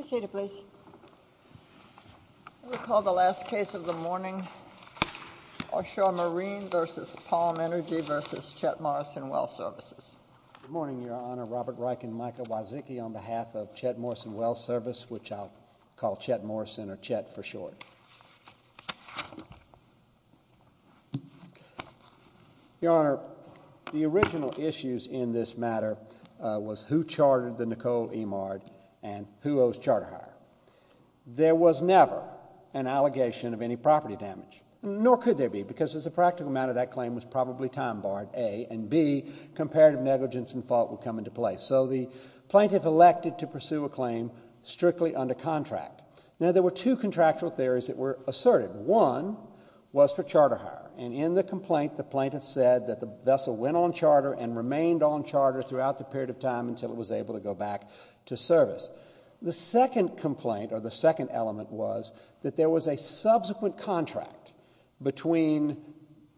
I call the last case of the morning, Oshore Marine v. Palm Energy v. Chet Morrison Well Services. Good morning, Your Honor. Robert Reich and Micah Wazicki on behalf of Chet Morrison Well Service, which I'll call Chet Morrison or Chet for short. Your Honor, the original issues in this matter was who chartered the Nicole E. Mard and who owes charter hire. There was never an allegation of any property damage, nor could there be, because as a practical matter, that claim was probably time barred, A, and B, comparative negligence and fault would come into play. So the plaintiff elected to pursue a claim strictly under contract. Now, there were two contractual theories that were asserted. One was for charter hire, and in the complaint, the plaintiff said that the vessel went on charter and remained on charter throughout the period of time until it was able to go back to service. The second complaint, or the second element, was that there was a subsequent contract between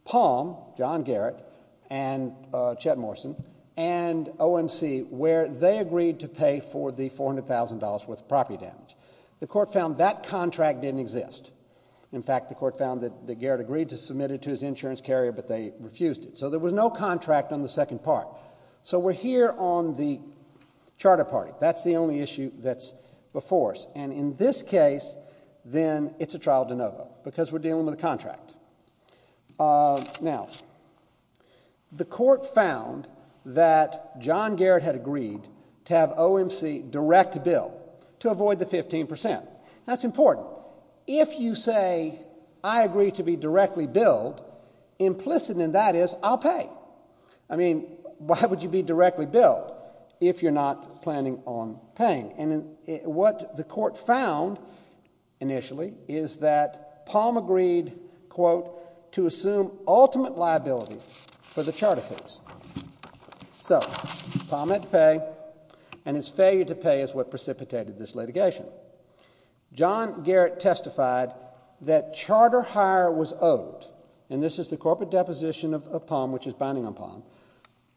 Palm, John Garrett, and Chet Morrison, and OMC, where they agreed to pay for the $400,000 worth of property damage. The court found that contract didn't exist. In fact, the court found that Garrett agreed to submit it to his insurance carrier, but they refused it. So there was no contract on the second part. So we're here on the charter party. That's the only issue that's before us. And in this case, then it's a trial de novo, because we're dealing with a contract. Now, the court found that John Garrett had agreed to have OMC direct a bill to avoid the 15%. That's important. If you say, I agree to be directly billed, implicit in that is, I'll pay. I mean, why would you be directly billed if you're not planning on paying? And what the court found initially is that Palm agreed, quote, to assume ultimate liability for the charter fees. So Palm had to pay, and his failure to pay is what precipitated this litigation. John Garrett testified that charter hire was owed. And this is the corporate deposition of Palm, which is binding on Palm.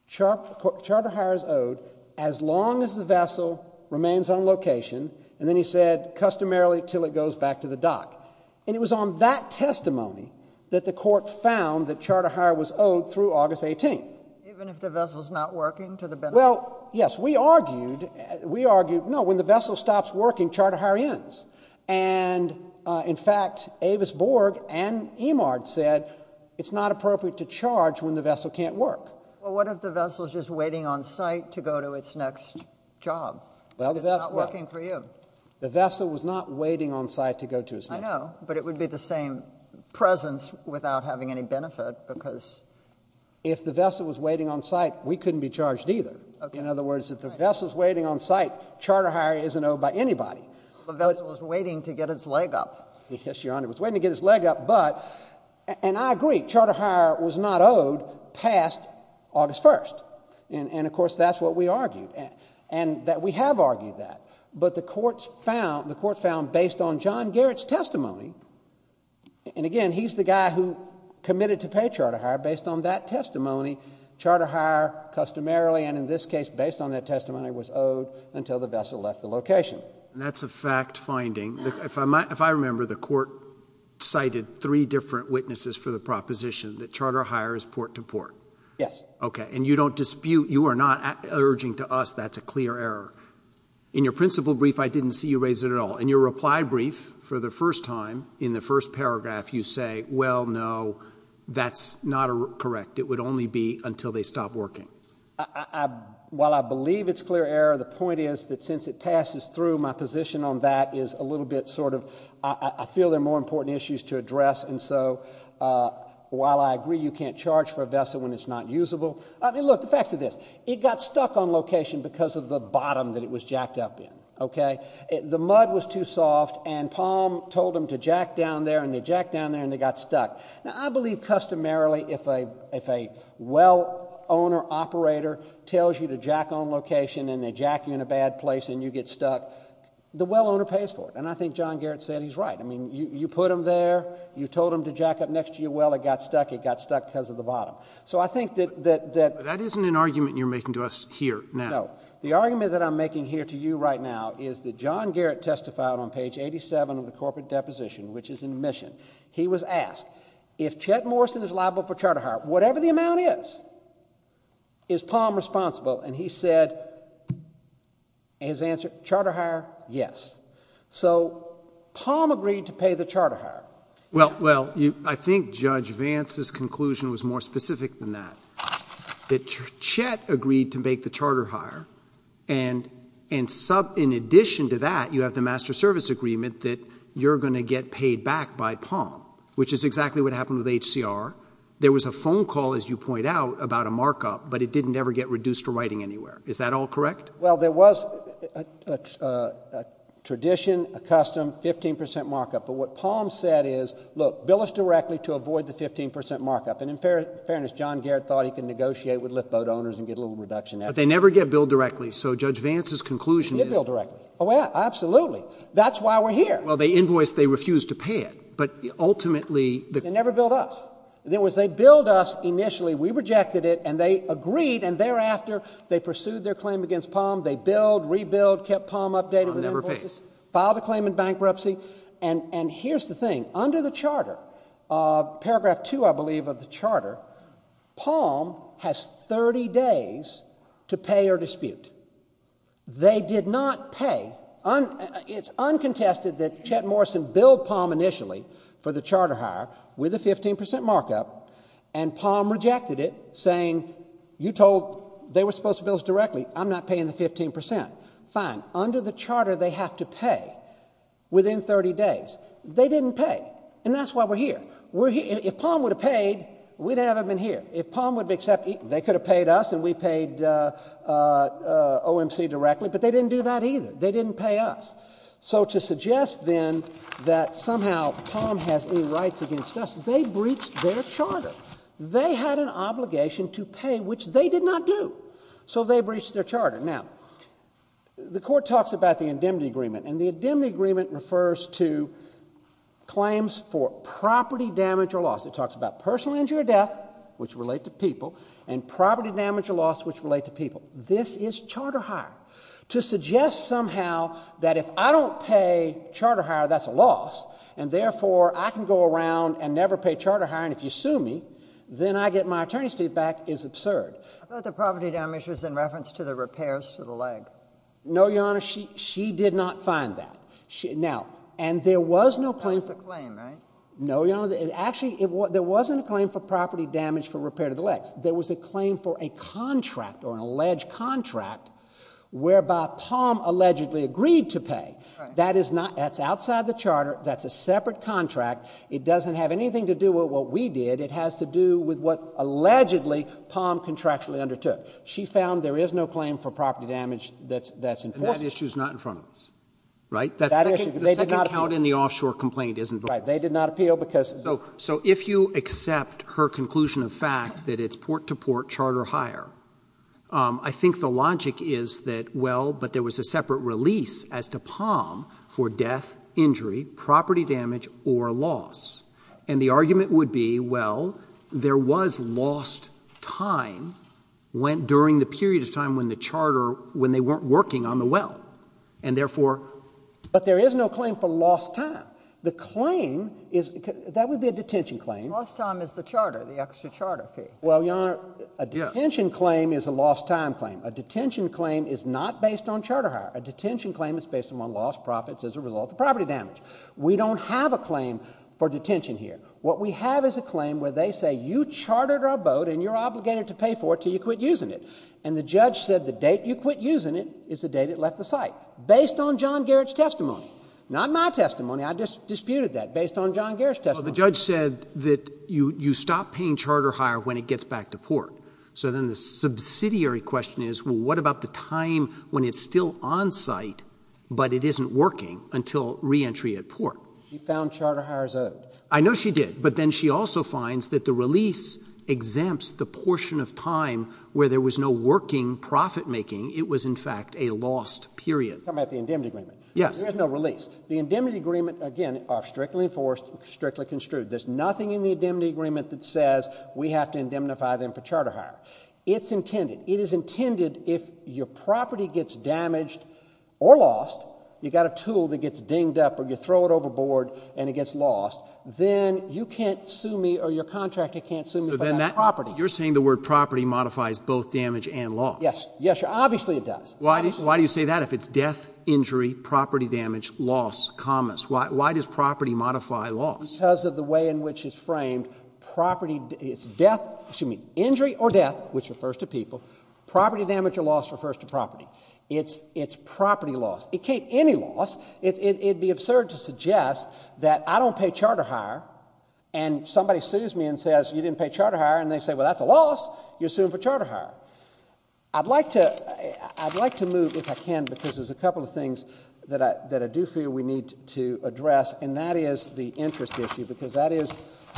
Charter hire is owed as long as the vessel remains on location. And then he said, customarily until it goes back to the dock. And it was on that testimony that the court found that charter hire was owed through August 18th. Even if the vessel's not working to the benefit? Well, yes. We argued, we argued, no, when the vessel stops working, charter hire ends. And, uh, in fact, Avis Borg and Emard said it's not appropriate to charge when the vessel can't work. Well, what if the vessel is just waiting on site to go to its next job? Well, that's not working for you. The vessel was not waiting on site to go to his house, but it would be the same presence without having any benefit because if the vessel was waiting on site, we couldn't be charged either. In other words, if the vessel is waiting on site, charter hire isn't owed by anybody. The vessel was waiting to get his leg up. Yes, Your Honor, it was waiting to get his leg up. But, and I agree, charter hire was not owed past August 1st. And of course, that's what we argued. And that we have argued that. But the courts found, the court found based on John Garrett's testimony, and again, he's the guy who committed to pay charter hire based on that testimony, charter hire customarily, and in this case, based on that testimony, was owed until the vessel left the location. And that's a fact finding. If I remember, the court cited three different witnesses for the proposition that charter hire is port to port. Yes. Okay. And you don't dispute, you are not urging to us that's a clear error. In your principle brief, I didn't see you raise it at all. In your reply brief for the first time, in the first paragraph, you say, well, no, that's not correct. It would only be until they stop working. I, while I believe it's clear error, the point is that since it passes through, my position on that is a little bit sort of, I feel they're more important issues to address. And so, while I agree you can't charge for a vessel when it's not usable, I mean, look, the facts of this, it got stuck on location because of the bottom that it was jacked up in. Okay. The mud was too soft and Palm told them to jack down there and they jacked down there and they got stuck. Now, I believe customarily if a, if a well owner operator tells you to jack on location and they jack you in a bad place and you get stuck, the well owner pays for it. And I think John Garrett said he's right. I mean, you, you put them there, you told them to jack up next to your well, it got stuck, it got stuck because of the bottom. So I think that, that, that. That isn't an argument you're making to us here now. No. The argument that I'm making here to you right now is that John Garrett testified on page 87 of the corporate deposition, which is in favor of charter hire, whatever the amount is, is Palm responsible? And he said his answer, charter hire? Yes. So Palm agreed to pay the charter hire. Well, well, you, I think Judge Vance's conclusion was more specific than that. That Chet agreed to make the charter hire and, and sub, in addition to that, you have the master service agreement that you're going to get paid back by Palm, which is exactly what happened with HCR. There was a phone call, as you point out, about a markup, but it didn't ever get reduced to writing anywhere. Is that all correct? Well, there was a, a, a, a tradition, a custom 15% markup. But what Palm said is, look, bill us directly to avoid the 15% markup. And in fair, fairness, John Garrett thought he can negotiate with lift boat owners and get a little reduction after that. But they never get billed directly. So Judge Vance's conclusion is, get billed they refused to pay it, but ultimately they never billed us. And there was, they billed us initially, we rejected it and they agreed. And thereafter they pursued their claim against Palm. They build, rebuild, kept Palm updated, filed a claim in bankruptcy. And, and here's the thing under the charter, uh, paragraph two, I believe of the charter, Palm has 30 days to pay or dispute. They did not pay. Un, it's uncontested that Chet Morrison billed Palm initially for the charter hire with a 15% markup and Palm rejected it saying, you told, they were supposed to bill us directly, I'm not paying the 15%. Fine. Under the charter, they have to pay within 30 days. They didn't pay. And that's why we're here. We're here. If Palm would have paid, we'd never have been here. If Palm would have accepted, they could have paid us and we paid, uh, uh, OMC directly, but they didn't do that either. They didn't pay us. So to suggest then that somehow Palm has any rights against us, they breached their charter. They had an obligation to pay, which they did not do. So they breached their charter. Now, the court talks about the indemnity agreement and the indemnity agreement refers to claims for property damage or loss. It talks about personal injury or death, which relate to people and property damage or loss, which relate to people. This is charter hire. To suggest somehow that if I don't pay charter hire, that's a loss and therefore I can go around and never pay charter hire. And if you sue me, then I get my attorney's feedback is absurd. I thought the property damage was in reference to the repairs to the leg. No, Your Honor. She, she did not find that. She, now, and there was no claim. That was the claim, right? No, Your Honor. It actually, there wasn't a claim for property damage for repair to the legs. There was a claim for a contract or an alleged contract whereby Palm allegedly agreed to pay. That is not, that's outside the charter. That's a separate contract. It doesn't have anything to do with what we did. It has to do with what allegedly Palm contractually undertook. She found there is no claim for property damage that's, that's enforceable. And that issue's not in front of us, right? That issue, they did not appeal. The second count in the offshore complaint isn't voting. Right. They did not appeal because So, so if you accept her conclusion of fact that it's port to port charter hire, um, I think the logic is that, well, but there was a separate release as to Palm for death, injury, property damage, or loss. And the argument would be, well, there was lost time when, during the period of time when the charter, when they weren't working on the well. And that would be a detention claim. Lost time is the charter, the extra charter fee. Well, Your Honor, a detention claim is a lost time claim. A detention claim is not based on charter hire. A detention claim is based upon lost profits as a result of property damage. We don't have a claim for detention here. What we have is a claim where they say you chartered our boat and you're obligated to pay for it till you quit using it. And the judge said the date you quit using it is the date it left the site, based on John Garrett's testimony, not my testimony. I just disputed that based on John Garrett's testimony. Well, the judge said that you stop paying charter hire when it gets back to port. So then the subsidiary question is, well, what about the time when it's still on site but it isn't working until reentry at port? She found charter hire as owed. I know she did. But then she also finds that the release exempts the portion of time where there was no working profit making. It was, in fact, a lost period. I'm talking about the indemnity agreement. Yes. There is no release. The indemnity agreement, again, are strictly enforced, strictly construed. There's nothing in the indemnity agreement that says we have to indemnify them for charter hire. It's intended. It is intended if your property gets damaged or lost, you got a tool that gets dinged up or you throw it overboard and it gets lost, then you can't sue me or your contractor can't sue me for that property. You're saying the word property modifies both damage and loss. Yes. Yes, obviously it does. Why do you say that if it's death, injury, property damage, loss, commas? Why does property modify loss? Because of the way in which it's framed. It's injury or death, which refers to people. Property damage or loss refers to property. It's property loss. It can't be any loss. It would be absurd to suggest that I don't pay charter hire and somebody sues me and says, you didn't pay charter hire. I'd like to move, if I can, because there's a couple of things that I do feel we need to address, and that is the interest issue, because that is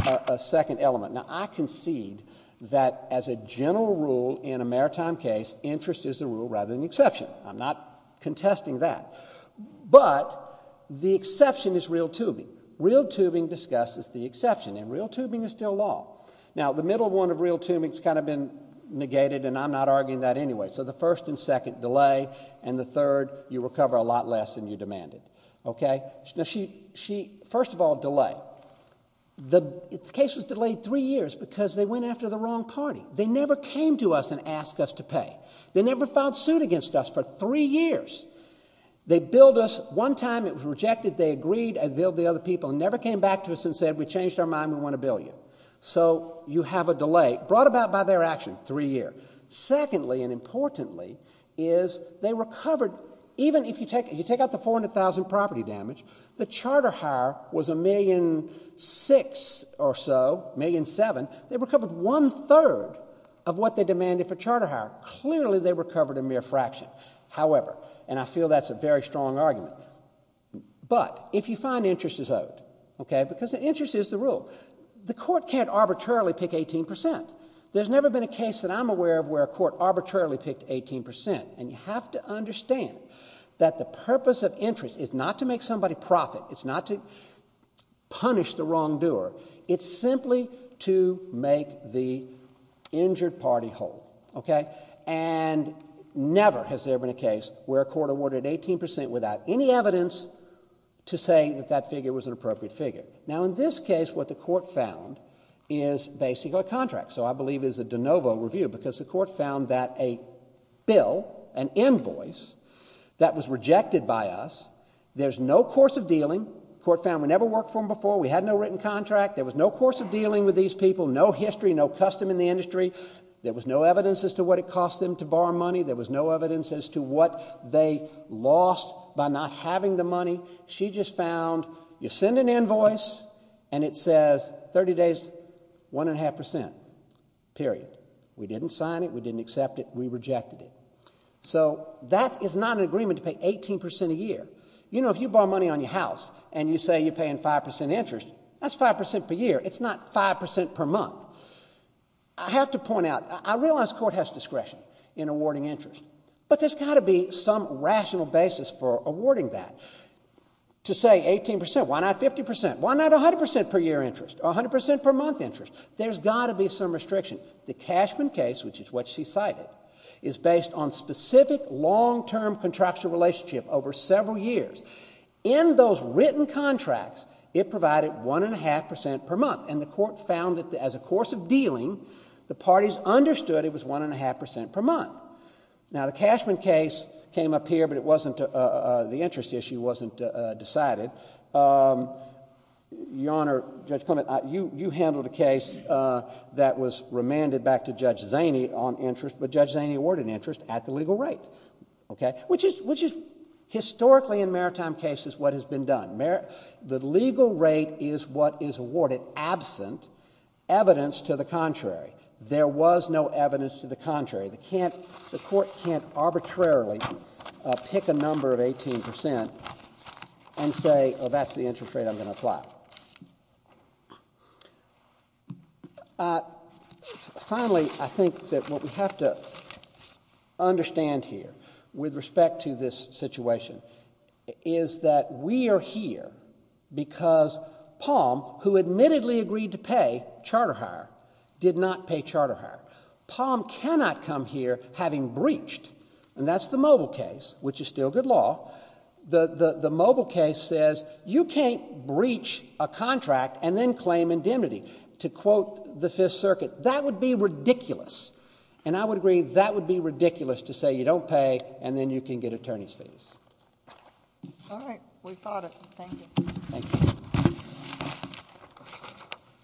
a second element. Now, I concede that as a general rule in a maritime case, interest is the rule rather than the exception. I'm not contesting that. But the exception is real tubing. Real tubing discusses the exception, and real tubing is still law. Now, the middle one of real tubing has kind of been negated, and I'm not arguing that anyway. So the first and second, delay, and the third, you recover a lot less than you demanded. Okay? Now, she, first of all, delay. The case was delayed three years because they went after the wrong party. They never came to us and asked us to pay. They never filed suit against us for three years. They billed us. One time it was rejected. They agreed and billed the other people and never came back to us and said, we changed our deal. So you have a delay brought about by their action, three years. Secondly and importantly is they recovered, even if you take out the 400,000 property damage, the charter hire was a million six or so, a million seven. They recovered one third of what they demanded for charter hire. Clearly they recovered a mere fraction. However, and I feel that's a very strong argument, but if you find interest is owed, okay, because interest is the rule, the court can't arbitrarily pick 18 percent. There's never been a case that I'm aware of where a court arbitrarily picked 18 percent. And you have to understand that the purpose of interest is not to make somebody profit. It's not to punish the wrongdoer. It's simply to make the injured party whole. Okay? And never has there been a case where a court awarded 18 percent without any evidence to say that that figure was an appropriate figure. Now in this case what the court found is basically a contract. So I believe it's a de novo review because the court found that a bill, an invoice that was rejected by us, there's no course of dealing. The court found we never worked for them before. We had no written contract. There was no course of dealing with these people, no history, no custom in the industry. There was no evidence as to what it cost them to borrow money. There was no evidence as to what they lost by not having the money. She just found you send an invoice and it says 30 days, one and a half percent, period. We didn't sign it. We didn't accept it. We rejected it. So that is not an agreement to pay 18 percent a year. You know, if you borrow money on your house and you say you're paying 5 percent interest, that's 5 percent per year. It's not 5 percent per month. I have to point out, I realize court has discretion in awarding interest, but there's got to be some rational basis for awarding that. To say 18 percent, why not 50 percent? Why not 100 percent per year interest or 100 percent per month interest? There's got to be some restriction. The Cashman case, which is what she cited, is based on specific long-term contractual relationship over several years. In those written contracts, it provided one and a half percent per month, and the court found that as a course of dealing, the parties understood it was one and a half percent per month. Now, the Cashman case came up here, but it wasn't, the interest issue wasn't decided. Your Honor, Judge Clement, you handled a case that was remanded back to Judge Zaney on interest, but Judge Zaney awarded interest at the legal rate, okay, which is historically in maritime cases what has been done. The legal rate is what is awarded absent evidence to the contrary. There was no evidence to the contrary. The court can't arbitrarily pick a number of 18 percent and say, oh, that's the interest rate I'm going to apply. Finally, I think that what we have to understand here with respect to this situation is that we are here because Palm, who admittedly agreed to pay charter hire, did not pay charter hire. Palm cannot come here having breached, and that's the Mobile case, which is still good law. The Mobile case says you can't breach a contract and then claim indemnity. To quote the Fifth Circuit, that would be ridiculous, and I would agree that would be ridiculous just to say you don't pay and then you can get attorney's fees. All right. We've got it. Thank you. Thank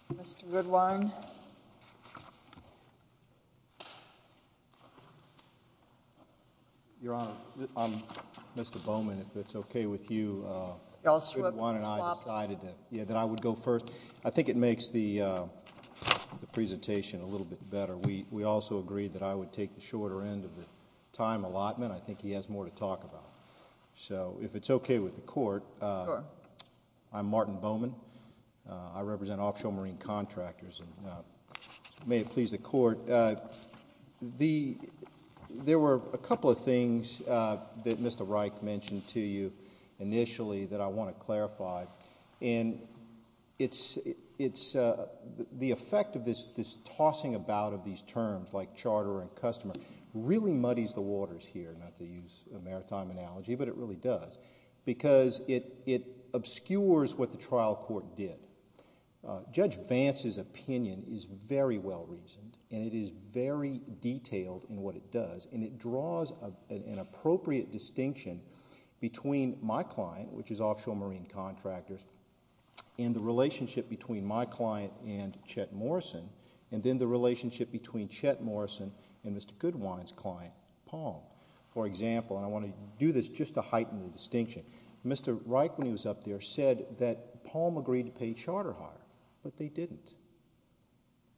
you. Mr. Goodwine. Your Honor, I'm Mr. Bowman. If that's okay with you, Goodwine and I decided that I would go first. I think it makes the presentation a little bit better. We also agreed that I would go second. I think that's a good time allotment. I think he has more to talk about. If it's okay with the Court, I'm Martin Bowman. I represent Offshore Marine Contractors. May it please the Court, there were a couple of things that Mr. Reich mentioned to you initially that I want to clarify. The effect of this tossing about of these terms like charter and customer really muddies the waters here, not to use a maritime analogy, but it really does, because it obscures what the trial court did. Judge Vance's opinion is very well reasoned and it is very detailed in what it does, and it draws an appropriate distinction between my client, which is Offshore Marine Contractors, and the relationship between my client and Chet Morrison and Mr. Goodwine's client, Palm. For example, and I want to do this just to heighten the distinction, Mr. Reich, when he was up there, said that Palm agreed to pay charter hire, but they didn't.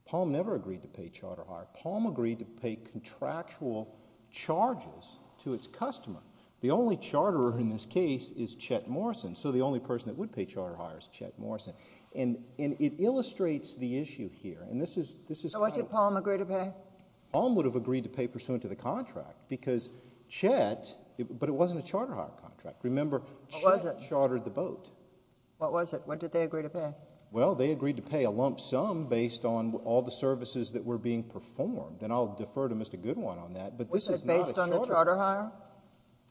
Palm never agreed to pay charter hire. Palm agreed to pay contractual charges to its customer. The only charterer in this case is Chet Morrison, so the only person that would pay charter hire is Chet Morrison. It illustrates the fact that Palm would have agreed to pay pursuant to the contract, because Chet, but it wasn't a charter hire contract. Remember, Chet chartered the boat. What was it? What did they agree to pay? Well, they agreed to pay a lump sum based on all the services that were being performed, and I'll defer to Mr. Goodwine on that, but this is not a charter hire. Was it based on the charter hire?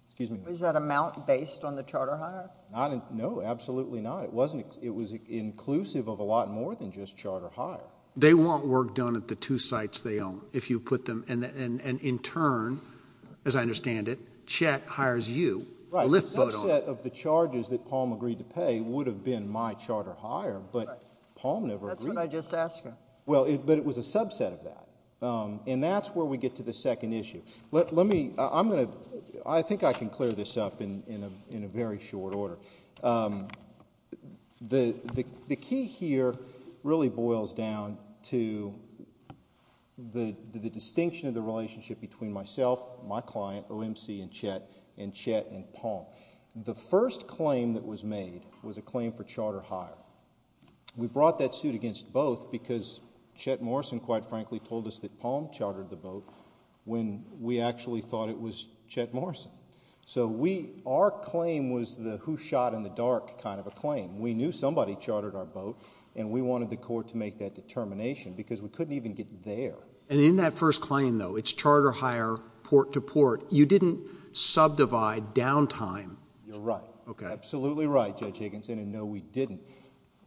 Excuse me? Was that amount based on the charter hire? No, absolutely not. It was inclusive of a lot more than just charter hire. They want work done at the two sites they own, if you put them, and in turn, as I understand it, Chet hires you, a lift boat owner. Right. A subset of the charges that Palm agreed to pay would have been my charter hire, but Palm never agreed. That's what I just asked her. Well, but it was a subset of that, and that's where we get to the second issue. Let me, I'm going to, I think I can clear this up in a very short order. The key here really boils down to the distinction of the relationship between myself, my client, OMC, and Chet, and Chet and Palm. The first claim that was made was a claim for charter hire. We brought that suit against both because Chet Morrison, quite frankly, told us that Palm chartered the boat when we actually thought it was Chet Morrison. So we, our claim was the who shot in the dark kind of a claim. We knew somebody chartered our boat, and we wanted the court to make that determination because we couldn't even get there. And in that first claim, though, it's charter hire port to port. You didn't subdivide downtime. You're right. Okay. Absolutely right, Judge Higginson, and no, we didn't.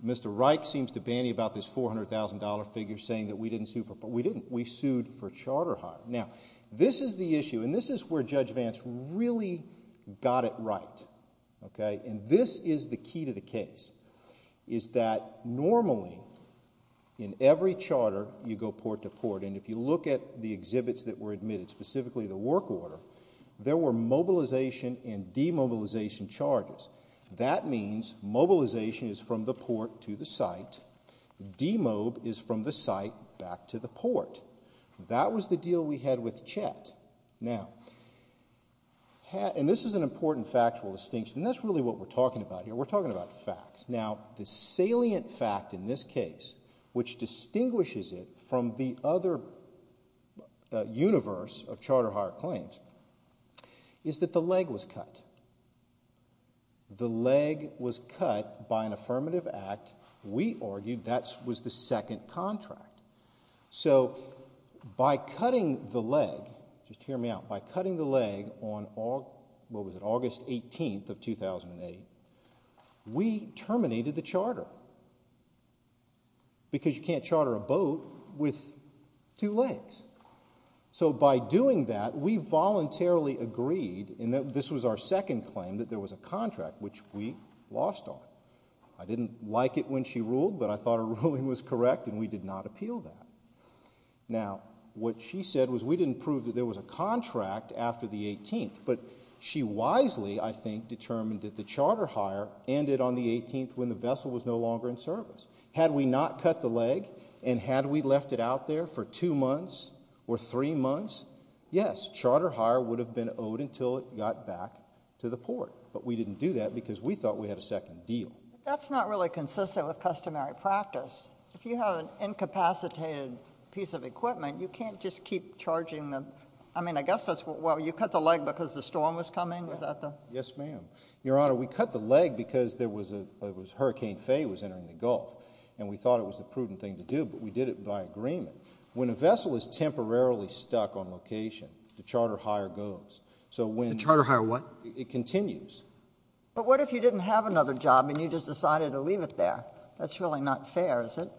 Mr. Reich seems to banty about this $400,000 figure saying that we didn't sue for, but we didn't. We sued for charter hire. Now, this is the issue, and this is where Judge Vance really got it right, okay? And this is the key to the case, is that normally, in every charter, you go port to port, and if you look at the exhibits that were admitted, specifically the work order, there were mobilization and demobilization charges. That means mobilization is from the port to the site. Demob is from the site back to the port. That was the deal we had with Chet. Now, and this is an important factual distinction, and that's really what we're talking about here. We're talking about the facts. Now, the salient fact in this case, which distinguishes it from the other universe of charter hire claims, is that the leg was cut. The leg was cut by an affirmative act. We argued that was the second contract. So by cutting the leg, just hear me out, by cutting the leg on, what was it, August 18th of 2008, we terminated the charter, because you can't charter a boat with two legs. So by doing that, we voluntarily agreed, and this was our second claim, that there was a contract, which we lost on. I didn't like it when she ruled, but I thought her ruling was correct, and we did not appeal that. Now, what she said was, we didn't prove that there was a contract after the 18th, but she wisely, I think, determined that the charter hire ended on the 18th, when the vessel was no longer in service. Had we not cut the leg, and had we left it out there for two months, or three months, yes, charter hire would have been owed until it got back to the port, but we didn't do that, because we thought we had a second deal. That's not really consistent with customary practice. If you have an incapacitated piece of equipment, you can't just keep charging them. I mean, I guess that's, well, you cut the leg because the storm was coming, is that the? Yes, ma'am. Your Honor, we cut the leg because Hurricane Faye was entering the Gulf, and we thought it was a prudent thing to do, but we did it by agreement. When a vessel is temporarily stuck on location, the charter hire goes. The charter hire what? It continues. But what if you didn't have another job, and you just decided to leave it there? That's really not fair, is it?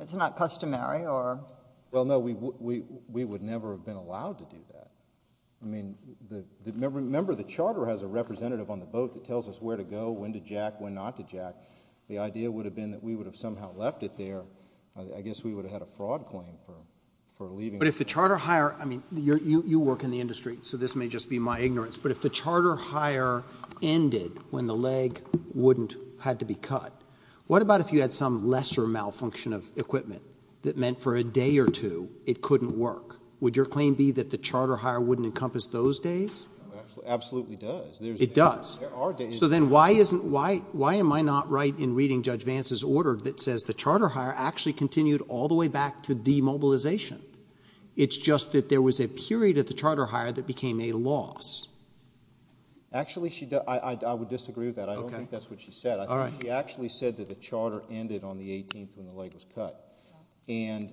It's not customary, or? Well, no, we would never have been allowed to do that. I mean, remember the charter has a representative on the boat that tells us where to go, when to jack, when not to jack. The idea would have been that we would have somehow left it there. I guess we would have had a fraud claim for leaving. But if the charter hire, I mean, you work in the industry, so this may just be my ignorance, but if the charter hire ended when the leg wouldn't... had to be cut, what about if you had some lesser malfunction of equipment that meant for a day or two it couldn't work? Would your claim be that the charter hire wouldn't encompass those days? Absolutely does. It does. There are days... So then why am I not right in reading Judge Vance's order that says the charter hire actually continued all the way back to demobilization? It's just that there was a period of the charter hire that became a loss. Actually she... I would disagree with that. I don't think that's what she said. Okay. All right. She actually said that the charter ended on the 18th when the leg was cut. And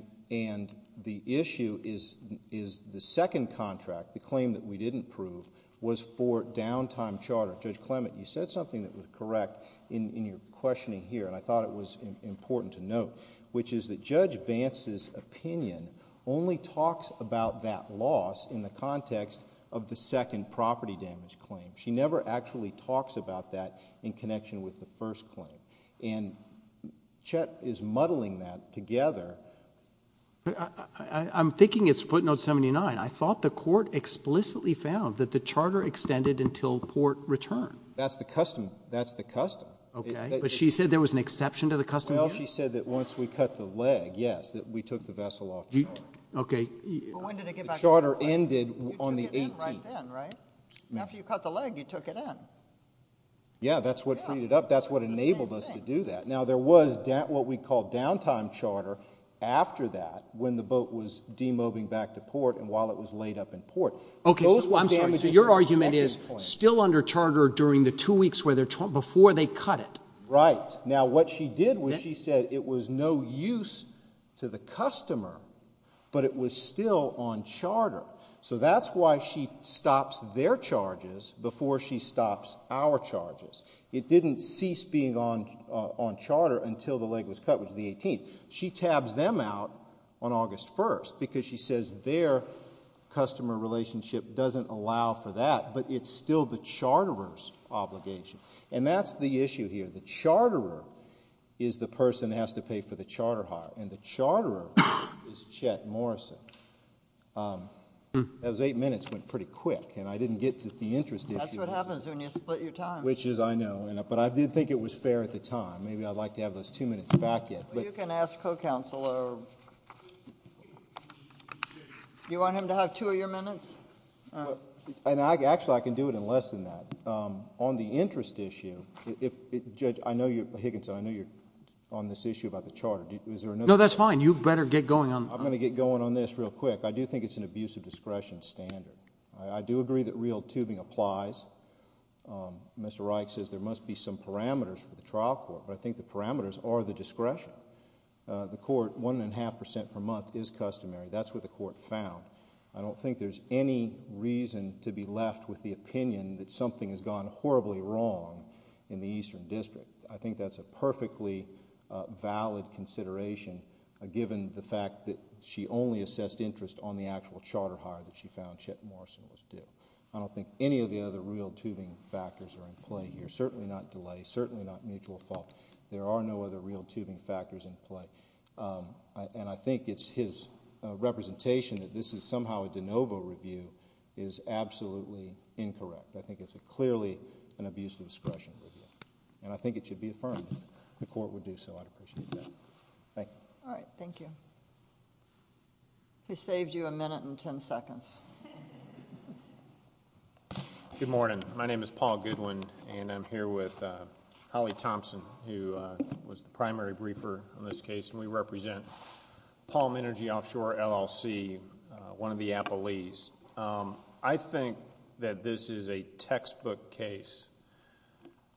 the issue is the second contract, the claim that we didn't prove, was for downtime charter. Judge Clement, you said something that was correct in your questioning here, and I thought it was important to note, which is that Judge Vance's opinion only talks about that loss in the context of the second property damage claim. She never actually talks about that in connection with the first claim. And Chet is muddling that together. I'm thinking it's footnote 79. I thought the court explicitly found that the charter extended until port return. That's the custom. That's the custom. Okay. But she said there was an exception to the custom here? Well, she said that once we cut the leg, yes, that we took the vessel off charter. Okay. But when did it get back to port? The charter ended on the 18th. You took it in right then, right? And after you cut the leg, you took it in. Yeah, that's what freed it up. That's what enabled us to do that. Now, there was what we call downtime charter after that when the boat was demobbing back to port and while it was laid up in port. Okay. So I'm sorry. So your argument is still under charter during the two weeks before they cut it? Right. Now, what she did was she said it was no use to the customer, but it was still on charter. So that's why she stops their charges before she stops our charges. It didn't cease being on on charter until the leg was cut, which is the 18th. She tabs them out on August 1st because she says their customer relationship doesn't allow for that. But it's still the charterers obligation. And that's the issue here. The charterer is the person who has to pay for the charter hire and the charterer is Chet Morrison. Those eight minutes went pretty quick and I didn't get to the interest. That's what happens when you split your time, which is I know. But I did think it was fair at the time. Maybe I'd like to have those two minutes back yet. You can ask co-counselor. You want him to have two of your minutes? And I actually I can do it in less than that on the interest issue. If I know you, Higginson, I know you're on this issue about the charter. Is there another? No, that's fine. You better get going on. I'm going to get going on this real quick. I do think it's an abuse of discretion standard. I do agree that real tubing applies. Mr. Reich says there must be some parameters for the trial court, but I think the parameters are the discretion. The court one and a half percent per month is customary. That's what the court found. I don't think there's any reason to be left with the opinion that something has gone horribly wrong in the Eastern District. I think that's a perfectly valid consideration given the fact that she only assessed interest on the actual charter hire that she found Chet Morrison was due. I don't think any of the other real tubing factors are in play here. Certainly not delay. Certainly not mutual fault. There are no other real tubing factors in play. And I think it's his representation that this is somehow a de novo review is absolutely incorrect. I think it's clearly an abuse of discretion. And I think it should be affirmed. The court would do so. I'd appreciate that. Thank you. All right. Thank you. He saved you a minute and 10 seconds. Good morning. My name is Paul Goodwin and I'm here with Holly Thompson, who was the primary briefer in this case, and we represent Palm Energy Offshore LLC, one of the appellees. I think that this is a textbook case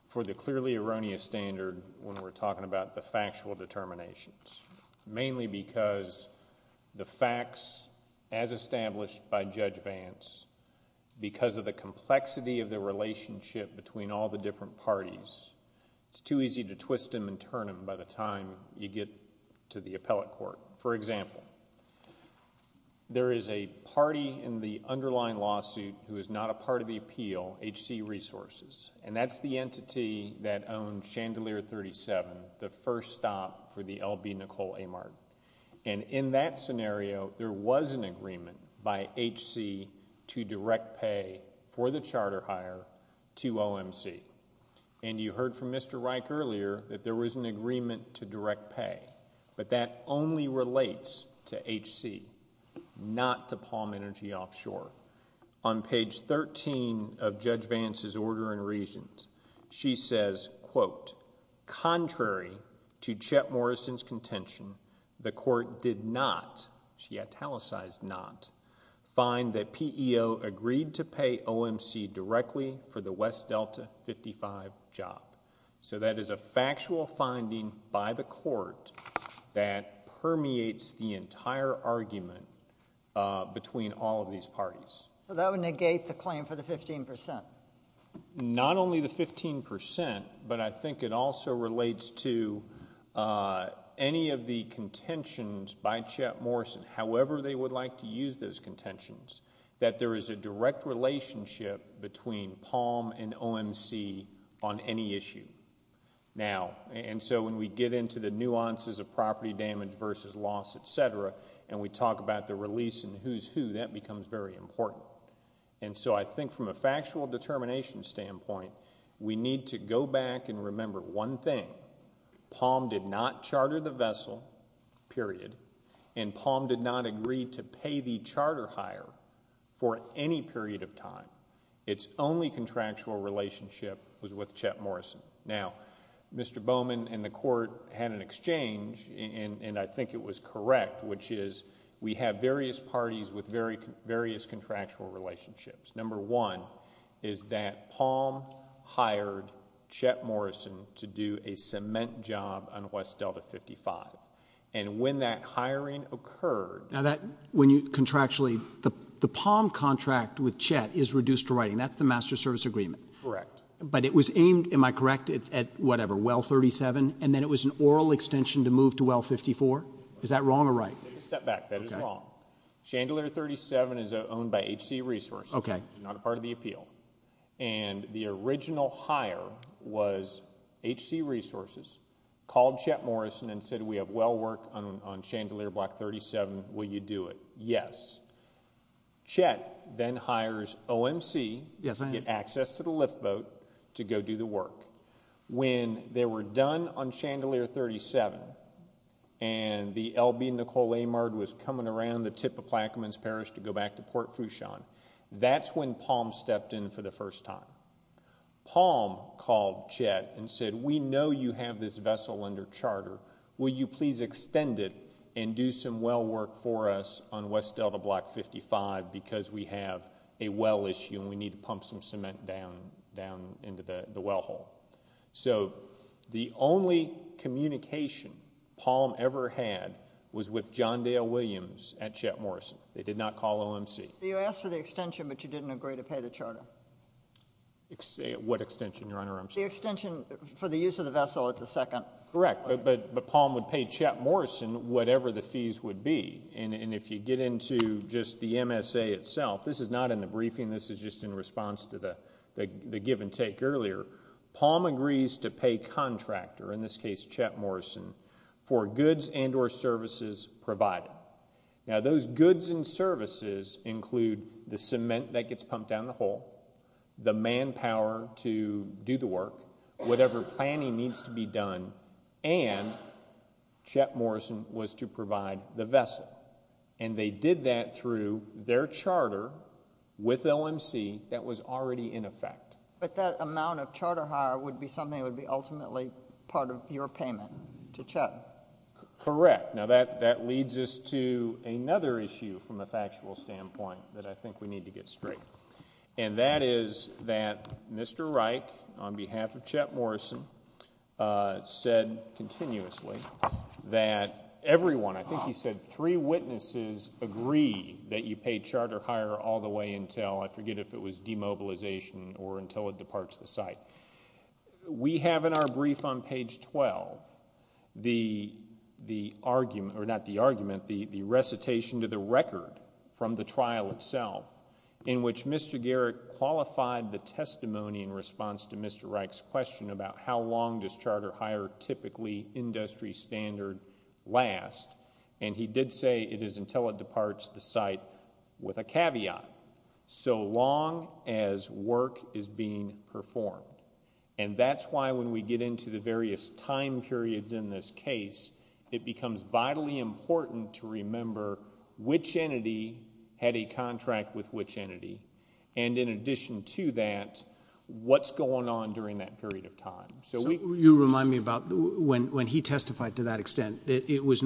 for the clearly erroneous standard when we're talking about the factual determinations, mainly because the facts, as established by Judge Vance, because of the complexity of the relationship between all the different parties, it's too easy to twist them and turn them by the time you get to the appellate court. For example, there is a party in the underlying lawsuit who is not a part of the appeal, HC Resources, and that's the entity that owned Chandelier 37, the first stop for the LB Nicole Amart. And in that scenario, there was an agreement by HC to direct pay for the charter hire to OMC. And you heard from Mr. Reich earlier that there was an agreement to direct pay, but that only relates to HC, not to Palm Energy Offshore. On page 13 of Judge Vance's order and reasons, she says, quote, contrary to Chet Morrison's contention, the court did not, she italicized not, find that job. So that is a factual finding by the court that permeates the entire argument between all of these parties. So that would negate the claim for the 15%. Not only the 15%, but I think it also relates to any of the contentions by Chet Morrison, however they would like to use those contentions, that there is a direct relationship between Palm and OMC on any issue. Now, and so when we get into the nuances of property damage versus loss, etc., and we talk about the release and who's who, that becomes very important. And so I think from a factual determination standpoint, we need to go back and remember one thing. Palm did not charter the vessel, period, and Palm did not agree to pay the contractor for any period of time. Its only contractual relationship was with Chet Morrison. Now, Mr. Bowman and the court had an exchange, and I think it was correct, which is we have various parties with various contractual relationships. Number one is that Palm hired Chet Morrison to do a cement job on West Delta 55, and when that hiring occurred... Now that, when you contractually... the Palm contract with Chet is reduced to writing. That's the master service agreement. Correct. But it was aimed, am I correct, at whatever, Well 37, and then it was an oral extension to move to Well 54? Is that wrong or right? Take a step back. That is wrong. Chandelier 37 is owned by HC Resources. Okay. It's not a part of the appeal. And the original hire was HC Resources, called Chet Morrison, and said, we have this vessel under charter, will you please extend it and move it to Chandelier Block 37, will you do it? Yes. Chet then hires OMC to get access to the lift boat to go do the work. When they were done on Chandelier 37, and the LB, Nicole Amard, was coming around the tip of Plaquemines Parish to go back to Port Fouchon, that's when Palm stepped in for the first time. Palm called Chet and said, we know you have this vessel under charter, will you please extend it and do some well work for us on West Delta Block 55, because we have a well issue and we need to pump some cement down, down into the, the well hole. So the only communication Palm ever had was with John Dale Williams at Chet Morrison. They did not call OMC. What extension, Your Honor, I'm sorry? The extension for the use of the vessel at the second. Correct. But, but, but Palm would pay Chet Morrison whatever the fees would be. And, and if you get into just the MSA itself, this is not in the briefing, this is just in response to the, the, the give and take earlier. Palm agrees to pay contractor, in this case Chet Morrison, for goods and or services provided. Now those goods and services include the cement that gets pumped down the hole, the manpower to do the work, whatever planning needs to be done, and Chet Morrison was to provide the vessel. And they did that through their charter with OMC that was already in effect. But that amount of charter hire would be something that would be ultimately part of your payment to Chet. Correct. Now that, that leads us to another issue from a factual standpoint that I think we need to get straight. And that is that Mr. Reich, on behalf of Chet Morrison, said continuously that everyone, I think he said three witnesses agree that you paid charter hire all the way until, I forget if it was demobilization or until it departs the site. We have in our brief on page 12, the, the argument, or not the argument, the, the argument, which Mr. Garrick qualified the testimony in response to Mr. Reich's question about how long does charter hire typically industry standard last. And he did say it is until it departs the site with a caveat. So long as work is being performed. And that's why when we get into the various time periods in this case, it becomes vitally important to remember which entity had a contract with which entity. And in addition to that, what's going on during that period of time. So we, you remind me about when, when he testified to that extent, it was,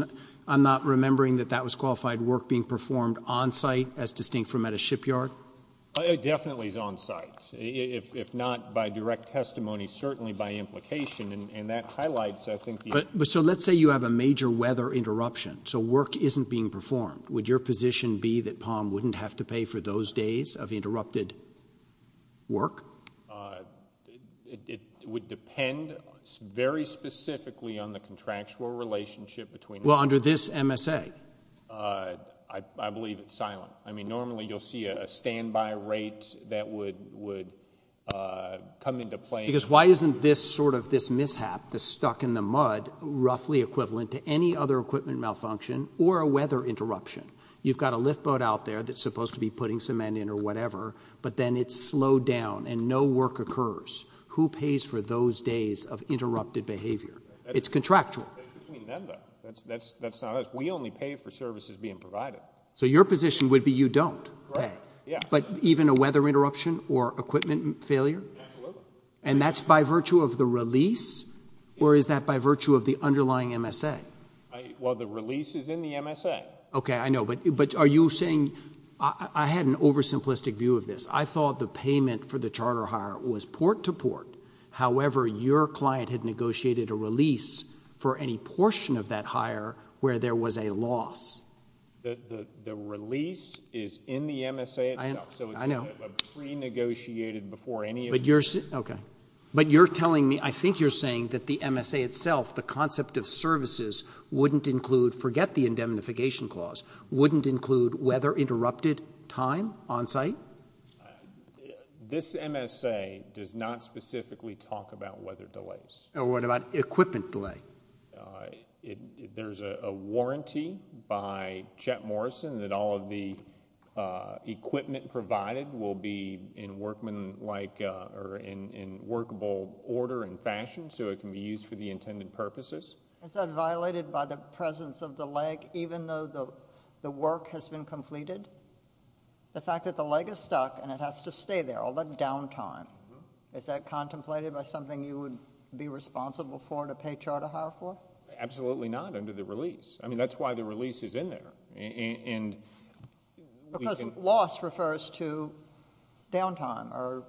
I'm not remembering that that was qualified work being performed onsite as distinct from at a shipyard. It definitely is onsite if, if not by direct testimony, certainly by implication and, and that highlights, I think, but, but so let's say you have a major weather interruption. So work isn't being performed. Would your position be that Palm wouldn't have to pay for those days of interrupted work? Uh, it, it would depend very specifically on the contractual relationship between well, under this MSA, uh, I, I believe it's silent. I mean, normally you'll see a standby rate that would, would, uh, come into play because why isn't this sort of this mishap, the stuck in the mud, roughly equivalent to any other equipment malfunction or a weather interruption. You've got a lift boat out there that's supposed to be putting some men in or whatever, but then it's slowed down and no work occurs. Who pays for those days of interrupted behavior? It's contractual. That's, that's, that's not us. We only pay for services being provided. So your position would be you don't pay, but even a weather interruption or equipment failure, and that's by virtue of the release, or is that by virtue of the underlying MSA? Well, the release is in the MSA. Okay. I know, but, but are you saying, I had an oversimplistic view of this. I thought the payment for the charter hire was port to port. However, your client had negotiated a release for any portion of that hire where there was a loss. The, the, the release is in the MSA itself. So it's been pre-negotiated before any of this. Okay. But you're telling me, I think you're saying that the MSA itself, the concept of services wouldn't include, forget the indemnification clause, wouldn't include weather interrupted time on site? This MSA does not specifically talk about weather delays. What about equipment delay? It, there's a warranty by Chet Morrison that all of the equipment provided will be in workmanlike, or in, in workable order and fashion, so it can be used for the intended purposes. Is that violated by the presence of the leg, even though the work has been completed? The fact that the leg is stuck and it has to stay there, all that downtime, is that contemplated by something you would be responsible for to pay charter hire for? Absolutely not under the release. I mean, that's why the release is in there. And, and, and. Because loss refers to downtime or.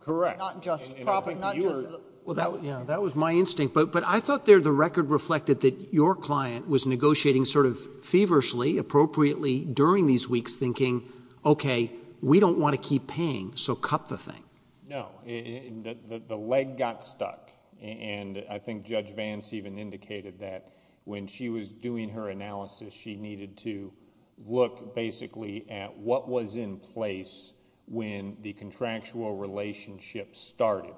Correct. Not just. Probably not just. Well, that, yeah, that was my instinct, but, but I thought there the record reflected that your client was negotiating sort of feverishly, appropriately during these weeks, thinking, okay, we don't want to keep paying, so cut the thing. No, the, the leg got stuck, and I think Judge Vance even indicated that when she was doing her analysis, she needed to look basically at what was in place when the contractual relationship started,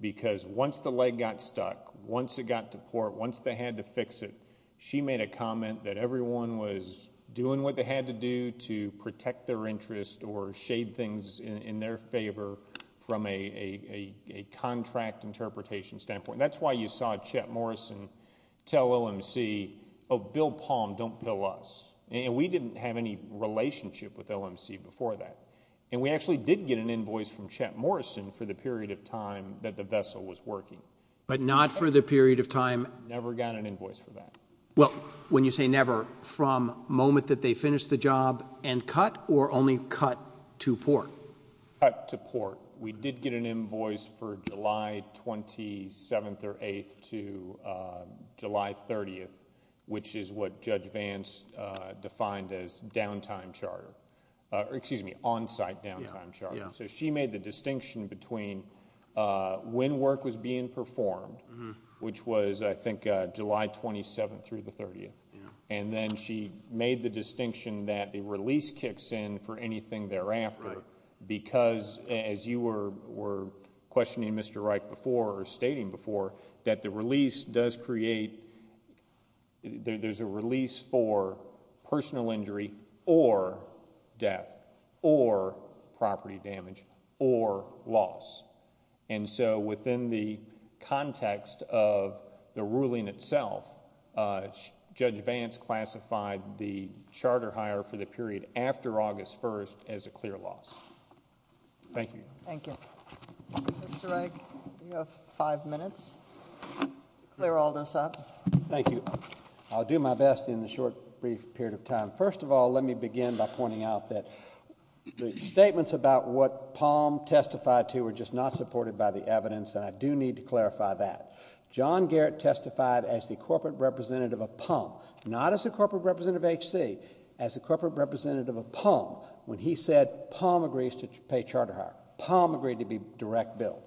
because once the leg got stuck, once it got to port, once they had to fix it, she made a comment that everyone was doing what they had to do to protect their interest or shade things in their favor from a, a, a contract interpretation standpoint. That's why you saw Chet Morrison tell LMC, oh, bill Palm, don't bill us. And we didn't have any relationship with LMC before that. And we actually did get an invoice from Chet Morrison for the period of time that the vessel was working. But not for the period of time. Never got an invoice for that. Well, when you say never, from moment that they finished the job and cut or only cut to port. Cut to port. We did get an invoice for July 27th or 8th to July 30th, which is what Judge McCarty said, which is the onsite downtime charter. So she made the distinction between when work was being performed, which was, I think, July 27th through the 30th. And then she made the distinction that the release kicks in for anything thereafter, because as you were, were questioning Mr. Reich before or stating before that the release does create, there's a release for personal injury or death or property damage or loss. And so within the context of the ruling itself, Judge Vance classified the charter hire for the period after August 1st as a clear loss. Thank you. Thank you. Mr. Reich, you have five minutes. Clear all this up. Thank you. I'll do my best in the short brief period of time. First of all, let me begin by pointing out that the statements about what Palm testified to were just not supported by the evidence. And I do need to clarify that. John Garrett testified as the corporate representative of Palm, not as a corporate representative of HC, as a corporate representative of Palm, when he said Palm agrees to pay charter hire, Palm agreed to be direct bill.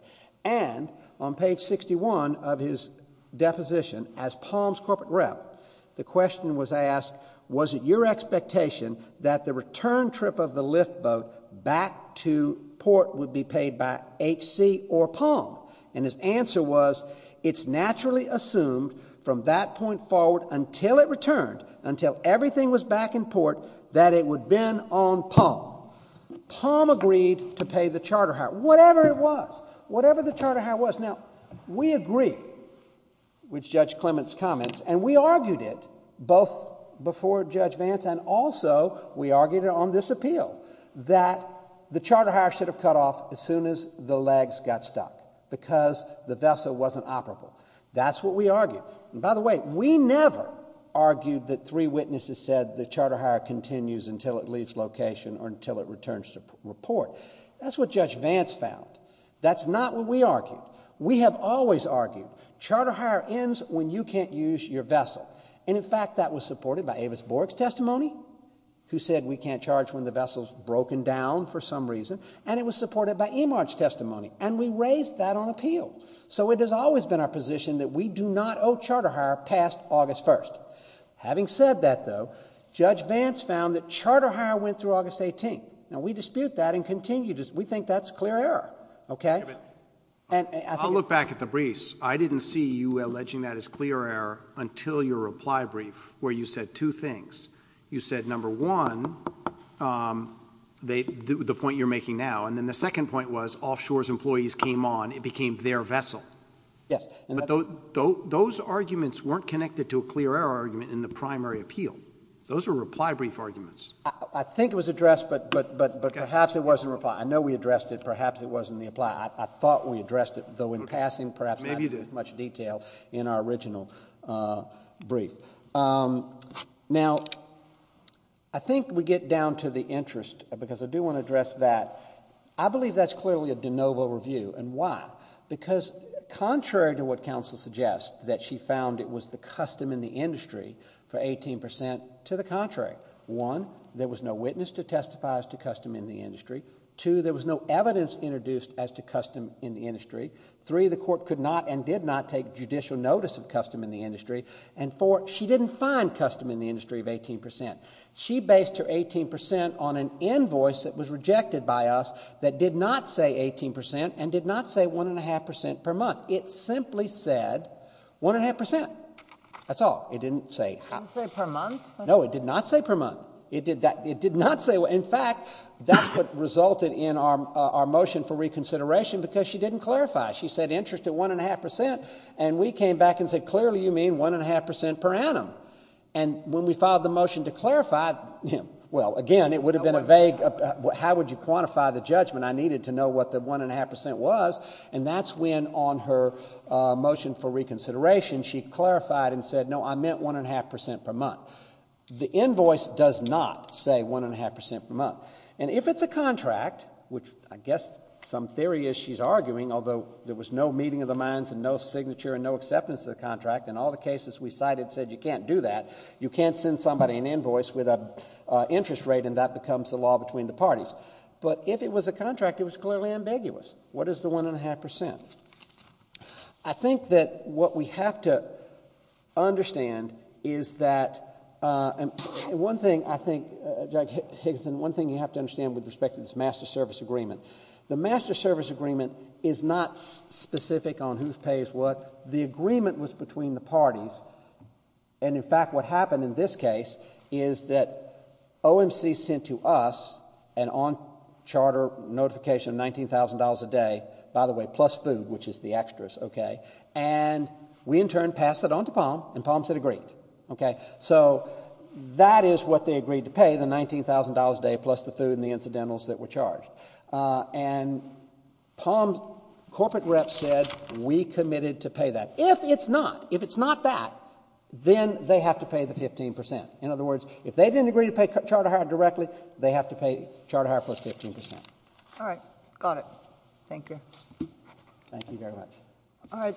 And on page 61 of his deposition as Palm's corporate rep, the question was asked, was it your expectation that the return trip of the lift boat back to port would be paid by HC or Palm? And his answer was, it's naturally assumed from that point forward until it returned, until everything was back in port, that it would been on Palm. Palm agreed to pay the charter hire, whatever it was. Whatever the charter hire was. Now we agree with Judge Clement's comments and we argued it both before Judge Vance and also we argued it on this appeal that the charter hire should have cut off as soon as the legs got stuck because the vessel wasn't operable. That's what we argued. And by the way, we never argued that three witnesses said the charter hire continues until it leaves location or until it returns to report. That's what Judge Vance found. That's not what we argued. We have always argued charter hire ends when you can't use your vessel. And in fact, that was supported by Avis Borg's testimony who said we can't charge when the vessel's broken down for some reason, and it was supported by Emarch testimony and we raised that on appeal. So it has always been our position that we do not owe charter hire past August 1st. Having said that though, Judge Vance found that charter hire went through August 18th. Now we dispute that and continue to, we think that's clear error. Okay. And I'll look back at the briefs. I didn't see you alleging that as clear error until your reply brief where you said two things. You said number one, um, they, the point you're making now. And then the second point was offshore's employees came on. It became their vessel. Yes. And those arguments weren't connected to a clear error argument in the primary appeal. Those are reply brief arguments. I think it was addressed, but, but, but, but perhaps it wasn't reply. I know we addressed it. Perhaps it wasn't the reply. I thought we addressed it though in passing, perhaps not with much detail in our original, uh, brief. Um, now I think we get down to the interest because I do want to address that. I believe that's clearly a de novo review and why? Because contrary to what counsel suggests that she found it was the custom in the industry for 18% to the contrary. One, there was no witness to testify as to custom in the industry. Two, there was no evidence introduced as to custom in the industry. Three, the court could not, and did not take judicial notice of custom in the industry. And four, she didn't find custom in the industry of 18%. She based her 18% on an invoice that was rejected by us that did not say 18% and did not say one and a half percent per month. It simply said one and a half percent. That's all. It didn't say per month. No, it did not say per month. It did that. It did not say. In fact, that's what resulted in our motion for reconsideration because she didn't clarify. She said interest at one and a half percent. And we came back and said, clearly you mean one and a half percent per annum. And when we filed the motion to clarify him, well, again, it would have been a vague, how would you quantify the judgment? I needed to know what the one and a half percent was. And that's when on her motion for reconsideration, she clarified and said, no, I meant one and a half percent per month. The invoice does not say one and a half percent per month. And if it's a contract, which I guess some theory is she's arguing, although there was no meeting of the minds and no signature and no acceptance of the contract and all the cases we cited said, you can't do that. You can't send somebody an invoice with a interest rate and that becomes the law between the parties. But if it was a contract, it was clearly ambiguous. What is the one and a half percent? I think that what we have to understand is that, uh, and one thing I think, uh, Doug Higginson, one thing you have to understand with respect to this master service agreement, the master service agreement is not specific on who pays what the agreement was between the parties. And in fact, what happened in this case is that OMC sent to us an on charter notification, $19,000 a day, by the way, plus food, which is the extras. Okay. And we in turn pass it on to Palm and Palm said agreed. Okay. So that is what they agreed to pay the $19,000 a day plus the food and the incidentals that were charged. Uh, and Palm corporate reps said we committed to pay that. If it's not, if it's not that, then they have to pay the 15%. In other words, if they didn't agree to pay charter hire directly, they have to pay charter hire plus 15%. All right. Got it. Thank you. Thank you very much. All right.